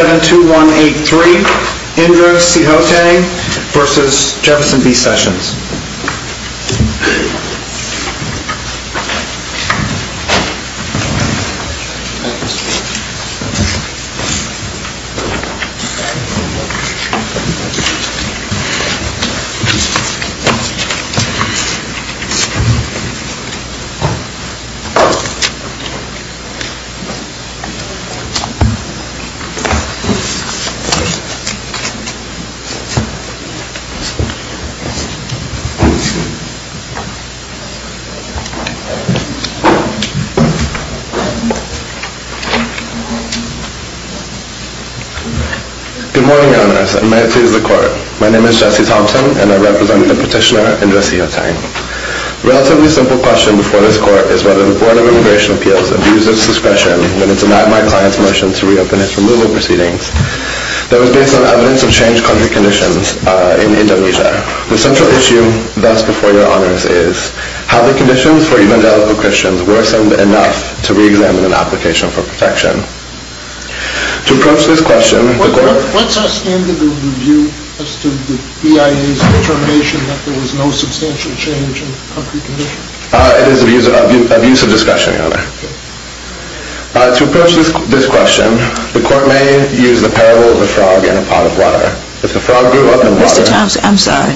72183, Indra Sihotang v. Jefferson B. Sessions. Good morning, Your Honors, and may it please the Court. My name is Jesse Thompson and I represent the Petitioner, Indra Sihotang. A relatively simple question before this Court is whether the Board of Immigration Appeals abused its discretion when it denied my client's reopenance removal proceedings that was based on evidence of changed country conditions in Indonesia. The central issue thus before Your Honors is how the conditions for evangelical Christians worsened enough to re-examine an application for protection. To approach this question, the Court- What's our standard of review as to the BIA's determination that there was no substantial change in country conditions? It is abuse of discretion, Your Honor. To approach this question, the Court may use the parable of the frog in a pot of water. If the frog grew up in water- Mr. Thompson, I'm sorry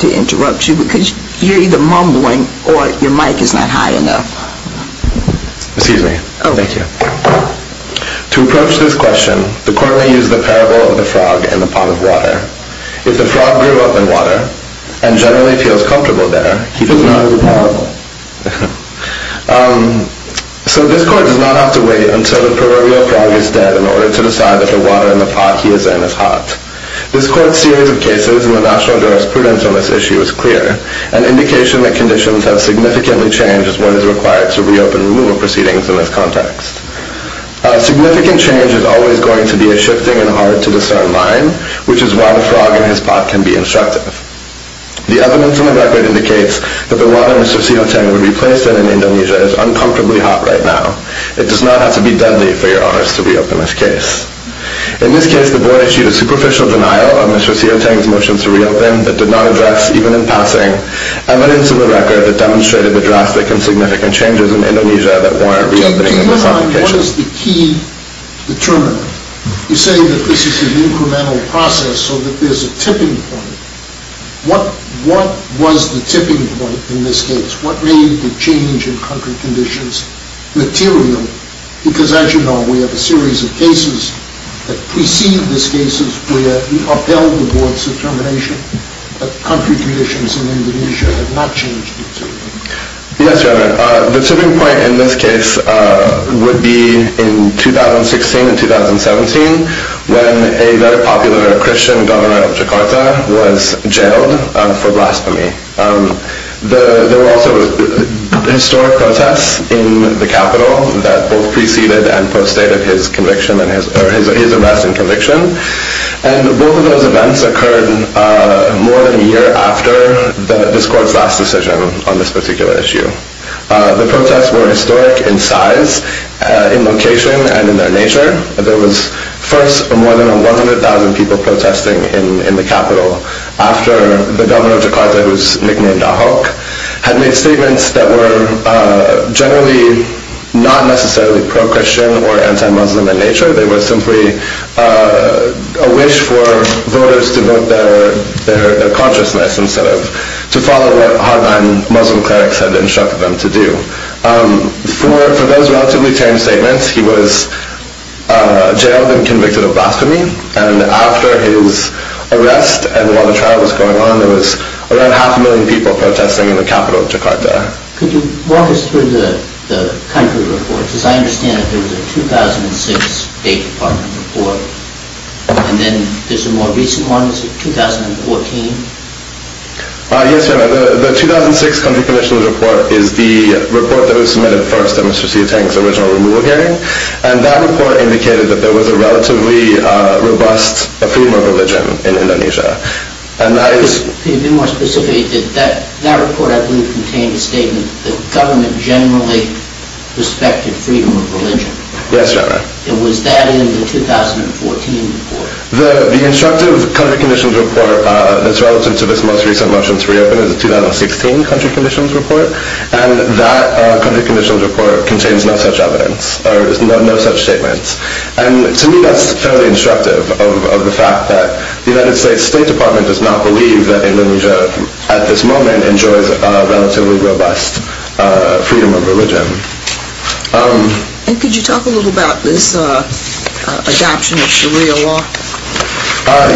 to interrupt you because you're either mumbling or your mic is not high enough. Excuse me. Oh, thank you. To approach this question, the Court may use the parable of the frog in a pot of water. If the frog grew up in water and generally feels comfortable there- It's not in the pot. So this Court does not have to wait until the proverbial frog is dead in order to decide that the water in the pot he is in is hot. This Court's series of cases in the national jurisprudence on this issue is clear, an indication that conditions have significantly changed as one is required to re-open removal proceedings in this context. Significant change is always going to be a shifting and hard to discern line, which is why the frog in his pot can be instructive. The evidence in the record indicates that the water Mr. Sioteng would be placed in in Indonesia is uncomfortably hot right now. It does not have to be deadly for Your Honors to re-open this case. In this case, the Board issued a superficial denial of Mr. Sioteng's motion to re-open that did not address, even in passing, evidence in the record that demonstrated the drastic and significant changes in Indonesia that warrant re-opening in this application. What is the key determinant? You say that this is an incremental process so that there is a tipping point. What was the tipping point in this case? What made the change in country conditions material? Because as you know, we have a series of cases that precede these cases where we upheld the Board's determination that country conditions in Indonesia have not changed materially. Yes, Your Honor. The tipping point in this case would be in 2016 and 2017 when a very popular Christian governor of Jakarta was jailed for blasphemy. There were also historic protests in the capital that both preceded and postdated his arrest and conviction. Both of those events occurred more than a year after this Court's last decision on this particular issue. The protests were historic in size, in location, and in their nature. There were first more than 100,000 people protesting in the capital after the governor of Jakarta whose nickname was Dahok, had made statements that were generally not necessarily pro-Christian or anti-Muslim in nature. They were simply a wish for voters to vote their consciousness instead of to follow what hardline Muslim clerics had instructed them to do. For those relatively tame statements, he was jailed and convicted of blasphemy and after his arrest and while the trial was going on, there was around half a million people protesting in the capital of Jakarta. Could you walk us through the country report? Because I understand that there was a 2006 State Department report and then there's a more recent one. Is it 2014? Yes, Your Honor. The 2006 country commissioners report is the report that was submitted first at Mr. Sietang's original removal hearing and that report indicated that there was a relatively robust freedom of religion in Indonesia. Could you be more specific? That report I believe contained a statement that the government generally respected freedom of religion. Yes, Your Honor. Was that in the 2014 report? The instructive country commissioners report that's relevant to this most recent motion to reopen is a 2016 country commissioners report and that country commissioners report contains no such evidence or no such statements. And to me that's fairly instructive of the United States State Department does not believe that Indonesia at this moment enjoys a relatively robust freedom of religion. And could you talk a little about this adoption of Sharia law?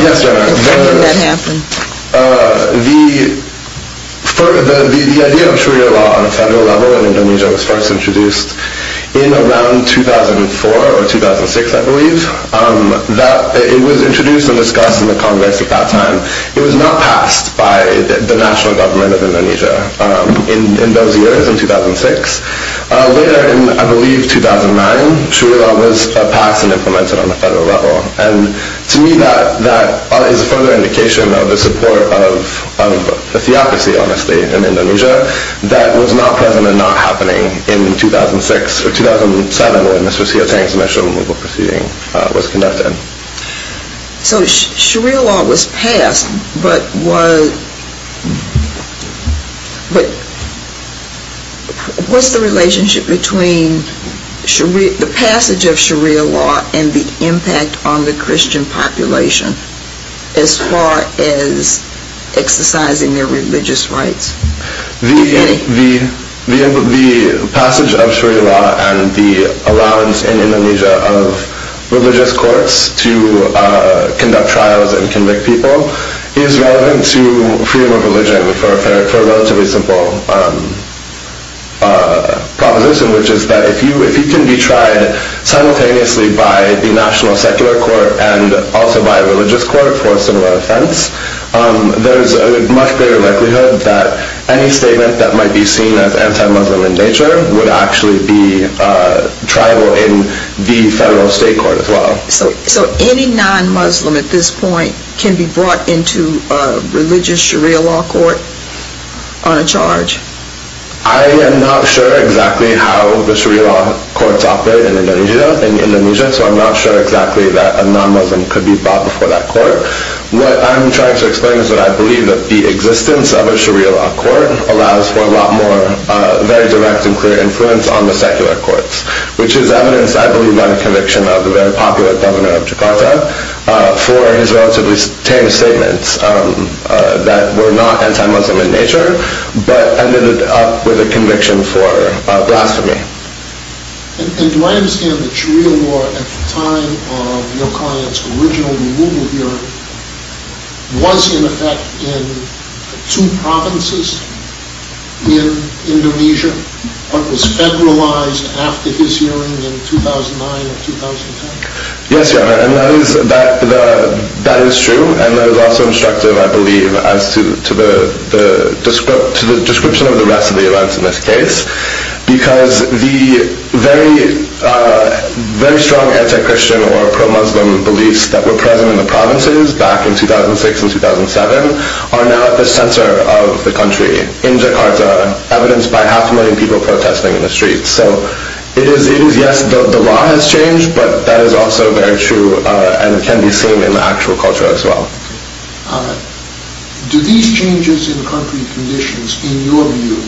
Yes, Your Honor. When did that happen? The idea of Sharia law on a federal level in Indonesia was first introduced in around 2004 or 2006, I believe. It was introduced and discussed in the Congress at that time. It was not passed by the national government of Indonesia in those years, in 2006. Later in, I believe, 2009, Sharia law was passed and implemented on a federal level. And to me that is a further indication of the support of a theocracy, honestly, in Indonesia that was not present and not happening in 2006 or 2007 when Mr. Sia Teng's national removal proceeding was conducted. So Sharia law was passed, but what's the relationship between the passage of Sharia law and the impact on the Christian population as far as exercising their religious rights? The passage of Sharia law and the allowance in Indonesia of religious courts to conduct trials and convict people is relevant to freedom of religion for a relatively simple proposition, which is that if you can be tried simultaneously by the national secular court and also by any statement that might be seen as anti-Muslim in nature would actually be tribal in the federal state court as well. So any non-Muslim at this point can be brought into a religious Sharia law court on a charge? I am not sure exactly how the Sharia law courts operate in Indonesia, so I'm not sure exactly that a non-Muslim could be brought before that court. What I'm trying to explain is that I believe that the existence of a Sharia law court allows for a lot more very direct and clear influence on the secular courts, which is evidence I believe by the conviction of the very popular governor of Jakarta for his relatively tame statements that were not anti-Muslim in nature, but ended up with a conviction for blasphemy. And do I understand that Sharia law at the time of your client's original removal hearing was in effect in two provinces in Indonesia, but was federalized after his hearing in 2009 or 2010? Yes, and that is true, and that is also instructive I believe as to the description of the rest of the events in this case, because the very strong anti-Christian or pro-Muslim beliefs that were present in the provinces back in 2006 and 2007 are now at the center of the country in Jakarta, evidenced by half a million people protesting in the streets. So it is yes, the law has changed, but that is also very true and can be seen in the actual culture as well. Do these changes in country conditions, in your view,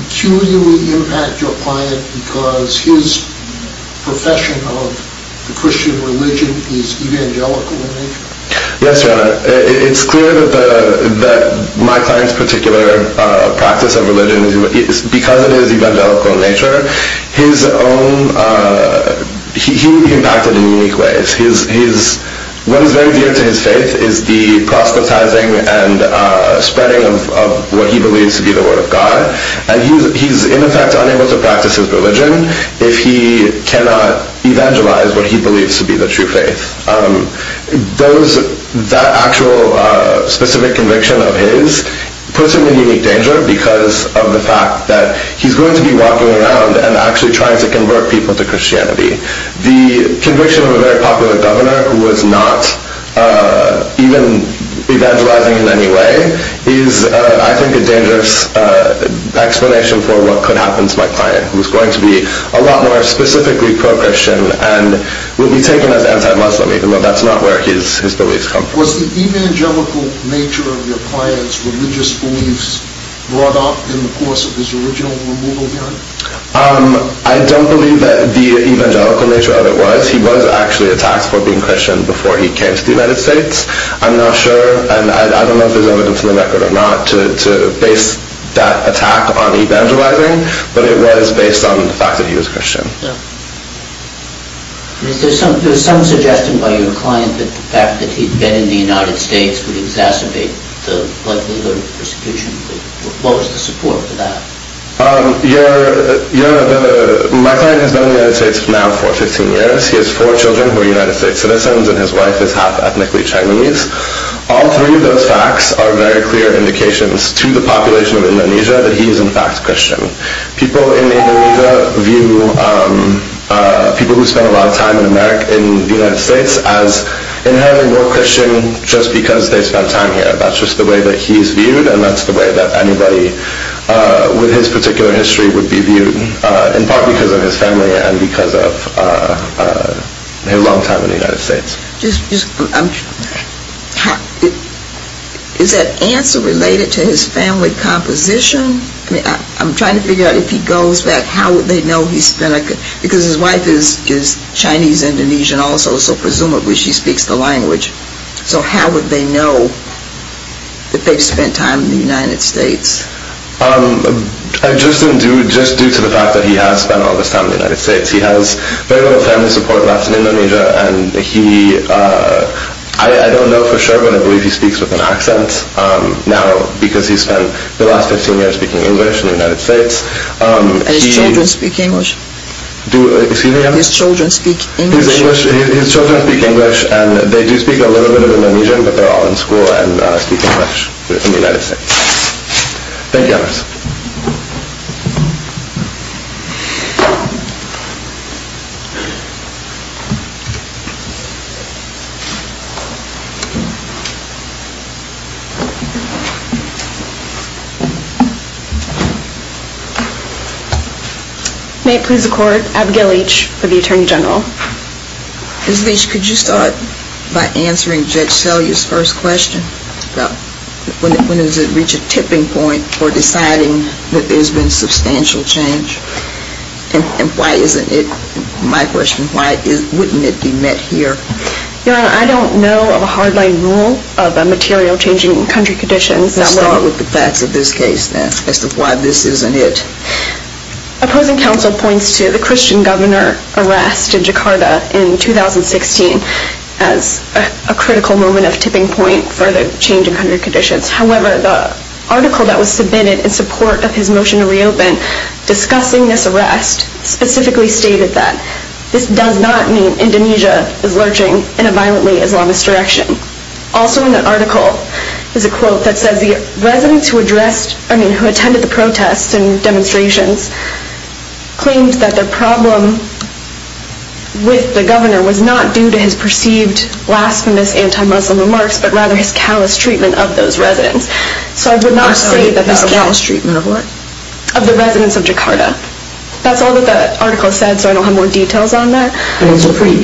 peculiarly impact your client because his profession of the Christian religion is evangelical in nature? Yes, it is clear that my client's particular practice of religion, because it is evangelical in nature, he will be impacted in unique ways. What is very dear to his faith is the proselytizing and spreading of what he believes to be the word of God, and he is in effect unable to practice his religion if he cannot evangelize what he believes to be the true faith. That actual specific conviction of his puts him in unique danger because of the fact that he is going to be walking around and actually trying to convert people to Christianity. The conviction of a very popular governor who is not even evangelizing in any way is, I think, a dangerous explanation for what could happen to my client, who is going to be a lot more specifically pro-Christian and will be taken as anti-Muslim, even though that is not where his beliefs come from. Was the evangelical nature of your client's religious beliefs brought up in the course of his original removal hearing? I don't believe that the evangelical nature of it was. He was actually attacked for being Christian before he came to the United States. I'm not sure, and I don't know if there is evidence in the record or not, to base that attack on evangelizing, but it was based on the fact that he was Christian. There is some suggestion by your client that the fact that he had been in the United States would exacerbate the likelihood of persecution. What was the support for that? My client has been in the United States now for 15 years. He has four children who are United States citizens, and his wife is half ethnically Chinese. All three of those facts are very clear indications to the population of Indonesia that he is in fact Christian. People in Indonesia view people who spend a lot of time in the United States as inherently more Christian just because they spend time here. That's just the way that he is viewed, and that's the way that anybody with his particular history would be viewed, in part because of his family and because of his long time in the United States. Is that answer related to his family composition? I'm trying to figure out if he goes back, because his wife is Chinese-Indonesian also, so presumably she speaks the language. So how would they know that they've spent time in the United States? Just due to the fact that he has spent all this time in the United States. He has very little family support left in Indonesia, and I don't know for sure, but I believe he speaks with an accent now because he spent the last 15 years speaking English in the United States. And his children speak English? Excuse me? His children speak English? His children speak English, and they do speak a little bit of Indonesian, but they're all in school and speak English in the United States. Thank you. May it please the Court, Abigail Leach for the Attorney General. Ms. Leach, could you start by answering Judge Selye's first question about when does it reach a tipping point for deciding that there's been substantial change, and why isn't it my question, why wouldn't it be met here? Your Honor, I don't know of a hardline rule, but I do know of a hardline rule that says of a material changing country condition. Let's start with the facts of this case, then, as to why this isn't it. Opposing counsel points to the Christian governor arrest in Jakarta in 2016 as a critical moment of tipping point for the change in country conditions. However, the article that was submitted in support of his motion to reopen discussing this arrest specifically stated that this does not mean Indonesia is lurching in a violently Islamist direction. Also in that article is a quote that says the residents who addressed, I mean, who attended the protests and demonstrations claimed that their problem with the governor was not due to his perceived blasphemous anti-Muslim remarks, but rather his callous treatment of those residents. So I would not say that... His callous treatment of what? Of the residents of Jakarta. That's all that the article said, so I don't have more details on that. But it's a pretty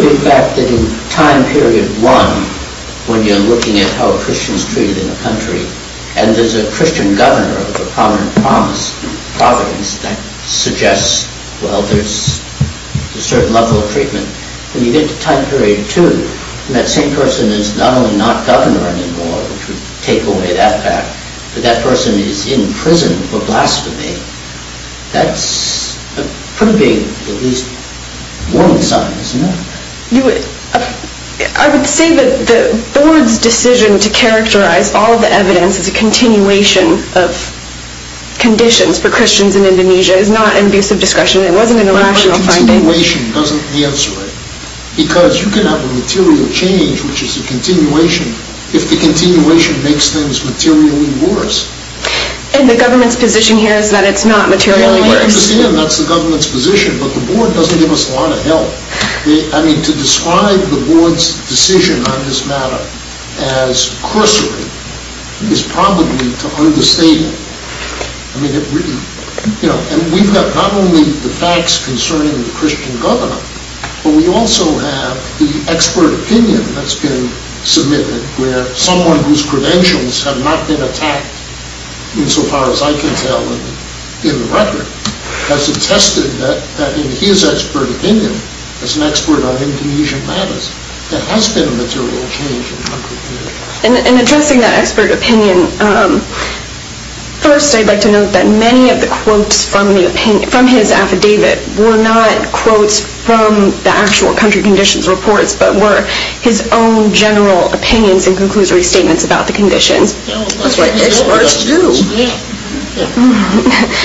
big fact that in time period one, when you're looking at how a Christian is treated in a country, and there's a Christian governor of a prominent province that suggests, well, there's a certain level of treatment. When you get to time period two, and that same person is not only not governor anymore, which would take away that fact, but that person is in prison for blasphemy, that's a pretty big, at least, warning sign, isn't it? I would say that the board's decision to characterize all the evidence as a continuation of conditions for Christians in Indonesia is not an abuse of discretion. It wasn't an irrational finding. But a continuation doesn't answer it. Because you can have a material change, which is a continuation, if the continuation makes things materially worse. And the government's position here is that it's not materially worse? I understand that's the government's position. But the board doesn't give us a lot of help. I mean, to describe the board's decision on this matter as cursory is probably to understate it. I mean, we've got not only the facts concerning the Christian governor, but we also have the expert opinion that's been submitted, where someone whose credentials have not been attacked insofar as I can tell in the record, has attested that in his expert opinion, as an expert on Indonesian matters, there has been a material change in country conditions. In addressing that expert opinion, first I'd like to note that many of the quotes from his affidavit were not quotes from the actual country conditions reports, but were his own general opinions and conclusory statements about the conditions. That's what experts do.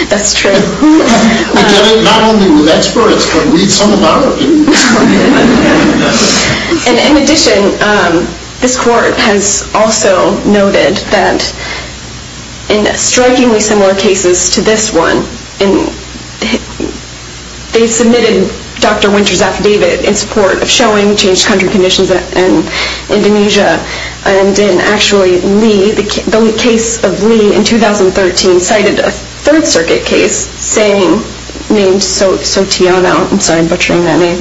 That's true. We get it not only from experts, but we get some of our opinions. And in addition, this court has also noted that in strikingly similar cases to this one, they submitted Dr. Winter's affidavit in support of showing changed country conditions in Indonesia and in actually Lee, the case of Lee in 2013 cited a Third Circuit case named Sotiono. I'm sorry, I'm butchering that name.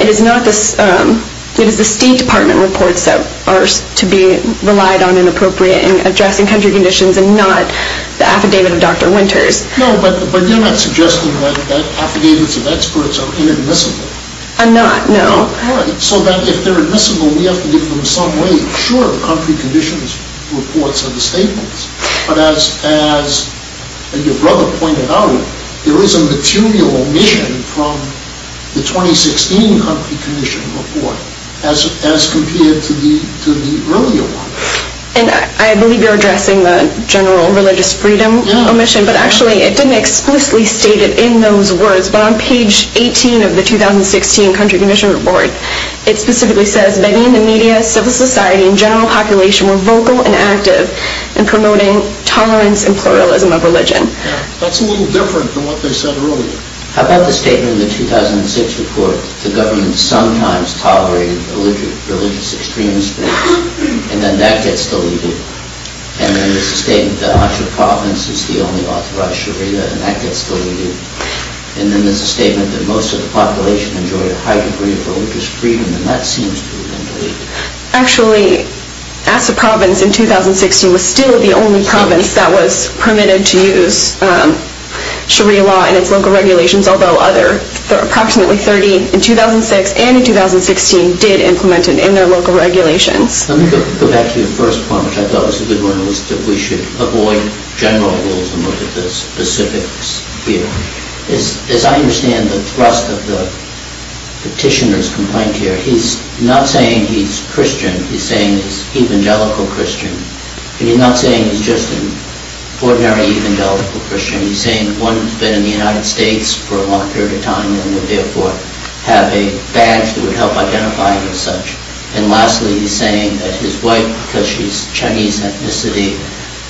It is not the State Department reports that are to be relied on in appropriate in addressing country conditions and not the affidavit of Dr. Winters. No, but you're not suggesting that affidavits of experts are inadmissible. I'm not, no. So that if they're admissible, we have to give them some weight. Sure, the country conditions reports are the statements. But as your brother pointed out, there is a material omission from the 2016 country condition report as compared to the earlier one. And I believe you're addressing the general religious freedom omission, but actually it has been explicitly stated in those words. But on page 18 of the 2016 country condition report, it specifically says many in the media, civil society, and general population were vocal and active in promoting tolerance and pluralism of religion. That's a little different than what they said earlier. How about the statement in the 2006 report, the government sometimes tolerated religious extremists, and then that gets deleted. And then there's a statement that Asha province is the only authorized sharia, and that gets deleted. And then there's a statement that most of the population enjoyed a high degree of religious freedom, and that seems to have been deleted. Actually, Asha province in 2016 was still the only province that was permitted to use sharia law in its local regulations, although other, approximately 30 in 2006 and in 2016 did implement it in their local regulations. Let me go back to your first point, which I thought was a good one, which is that we should avoid general rules and look at the specifics here. As I understand the thrust of the petitioner's complaint here, he's not saying he's Christian. He's saying he's evangelical Christian. And he's not saying he's just an ordinary evangelical Christian. He's saying one who's been in the United States for a long period of time and would therefore have a badge that would help identify him as such. And lastly, he's saying that his wife, because she's Chinese ethnicity,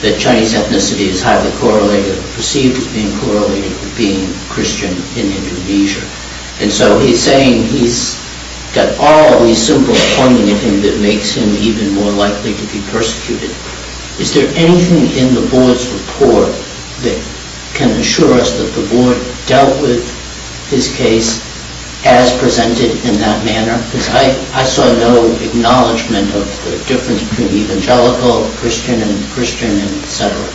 that Chinese ethnicity is highly correlated or perceived as being correlated with being Christian in Indonesia. And so he's saying he's got all these simple pointing at him that makes him even more likely to be persecuted. Is there anything in the board's report that can assure us that the board dealt with his case as presented in that manner? I saw no acknowledgment of the difference between evangelical, Christian, and Christian, et cetera.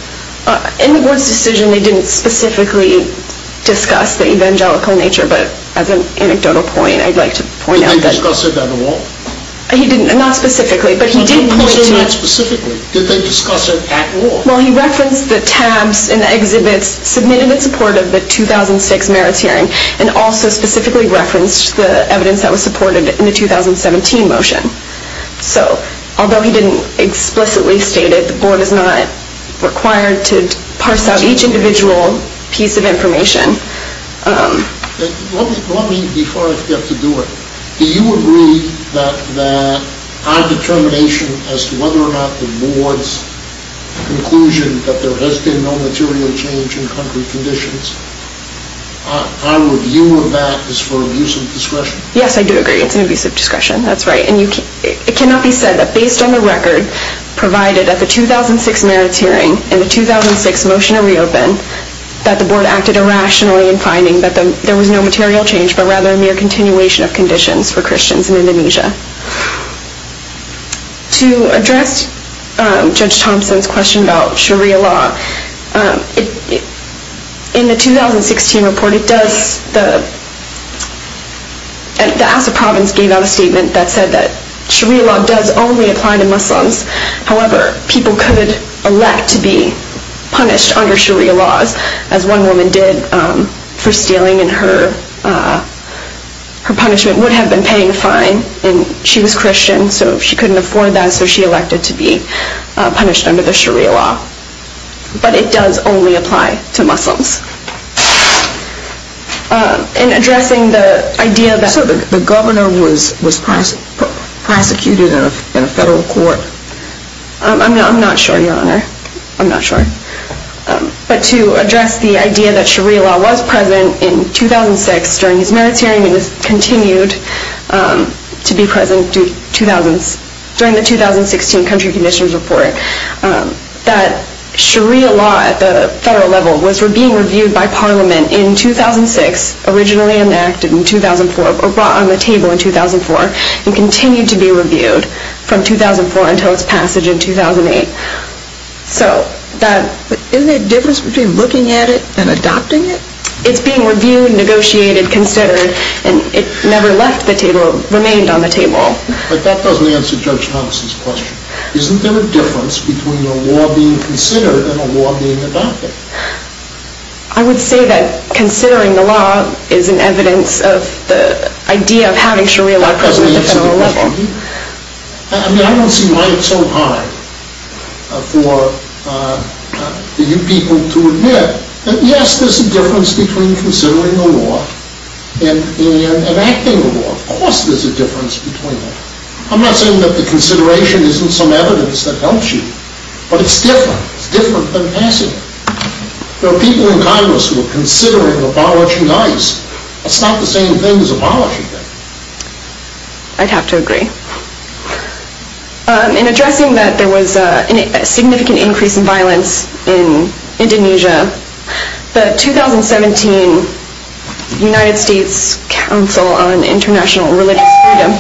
In the board's decision, they didn't specifically discuss the evangelical nature. But as an anecdotal point, I'd like to point out that- Did they discuss it at all? He didn't. Not specifically, but he did point to- You said not specifically. Did they discuss it at all? Well, he referenced the tabs in the exhibits submitted in support of the 2006 merits hearing and also specifically referenced the evidence that was supported in the 2017 motion. So, although he didn't explicitly state it, the board is not required to parse out each individual piece of information. Let me, before I forget to do it, do you agree that our determination as to whether or not the board's conclusion that there has been no material change in country conditions, I would humor that as for an abuse of discretion. Yes, I do agree it's an abuse of discretion. That's right. And it cannot be said that based on the record provided at the 2006 merits hearing and the 2006 motion to reopen, that the board acted irrationally in finding that there was no material change, but rather a mere continuation of conditions for Christians in Indonesia. To address Judge Thompson's question about Sharia law, in the 2016 report it does- the House of Providence gave out a statement that said that Sharia law does only apply to Muslims. However, people could elect to be punished under Sharia laws, as one woman did for stealing and her punishment would have been paying a fine, and she was Christian, so she couldn't afford that, so she elected to be punished under the Sharia law. But it does only apply to Muslims. In addressing the idea that- So the governor was prosecuted in a federal court? I'm not sure, Your Honor. I'm not sure. But to address the idea that Sharia law was present in 2006 during his merits hearing and has continued to be present during the 2016 country conditions report, that Sharia law at the federal level was being reviewed by Parliament in 2006, originally enacted in 2004, or brought on the table in 2004, and continued to be reviewed from 2004 until its passage in 2008. So that- Isn't there a difference between looking at it and adopting it? It's being reviewed, negotiated, considered, and it never left the table- remained on the table. But that doesn't answer Judge Thomas' question. Isn't there a difference between a law being considered and a law being adopted? I would say that considering the law is an evidence of the idea of having Sharia law present at the federal level. That doesn't answer the question. I mean, I don't see why it's so hard for you people to admit that yes, there's a difference between considering a law and enacting a law. Of course there's a difference between them. I'm not saying that the consideration isn't some evidence that helps you, but it's different. It's different than passing it. There are people in Congress who are considering abolishing ICE. It's not the same thing as abolishing it. I'd have to agree. In addressing that there was a significant increase in violence in Indonesia, the 2017 United States Council on International Religious Freedom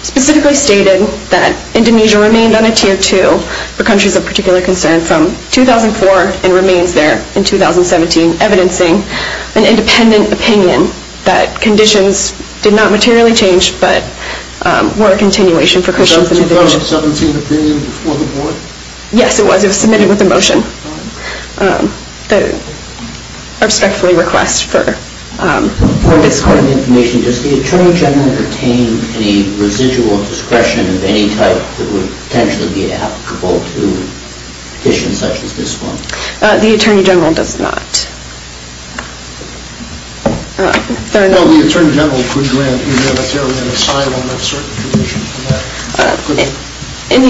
specifically stated that Indonesia remained on a Tier 2 for countries of particular concern from 2004 and remains there in 2017 evidencing an independent opinion that conditions did not materially change, but were a continuation for Christians in Indonesia. Wasn't that a 2017 opinion before the board? Yes, it was. It was submitted with a motion that I respectfully request for this court. Does the Attorney General retain any residual discretion of any type that would potentially be applicable to petitions such as this one? The Attorney General does not. In the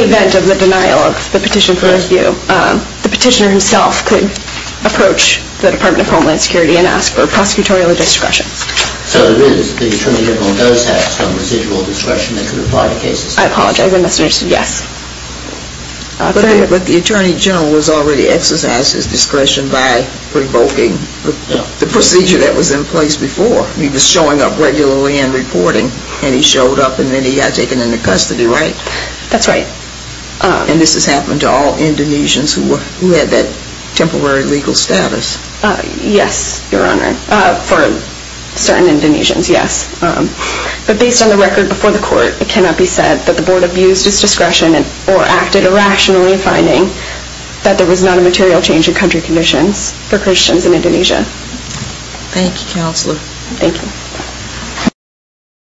event of the denial of the petition for review, the petitioner himself could approach the Department of Homeland Security and ask for prosecutorial discretion. So it is, the Attorney General does have some residual discretion that could apply to cases? I apologize, I misunderstood. Yes. But the Attorney General has already exercised his discretion by revoking the procedure that was in place before. He was showing up regularly and reporting, and he showed up and then he got taken into custody, right? That's right. And this has happened to all Indonesians who had that temporary legal status? Yes, Your Honor. For certain Indonesians, yes. But based on the record before the court, it cannot be said that the board abused its discretion or acted irrationally in finding that there was not a material change in country conditions for Christians in Indonesia. Thank you, Counselor. Thank you.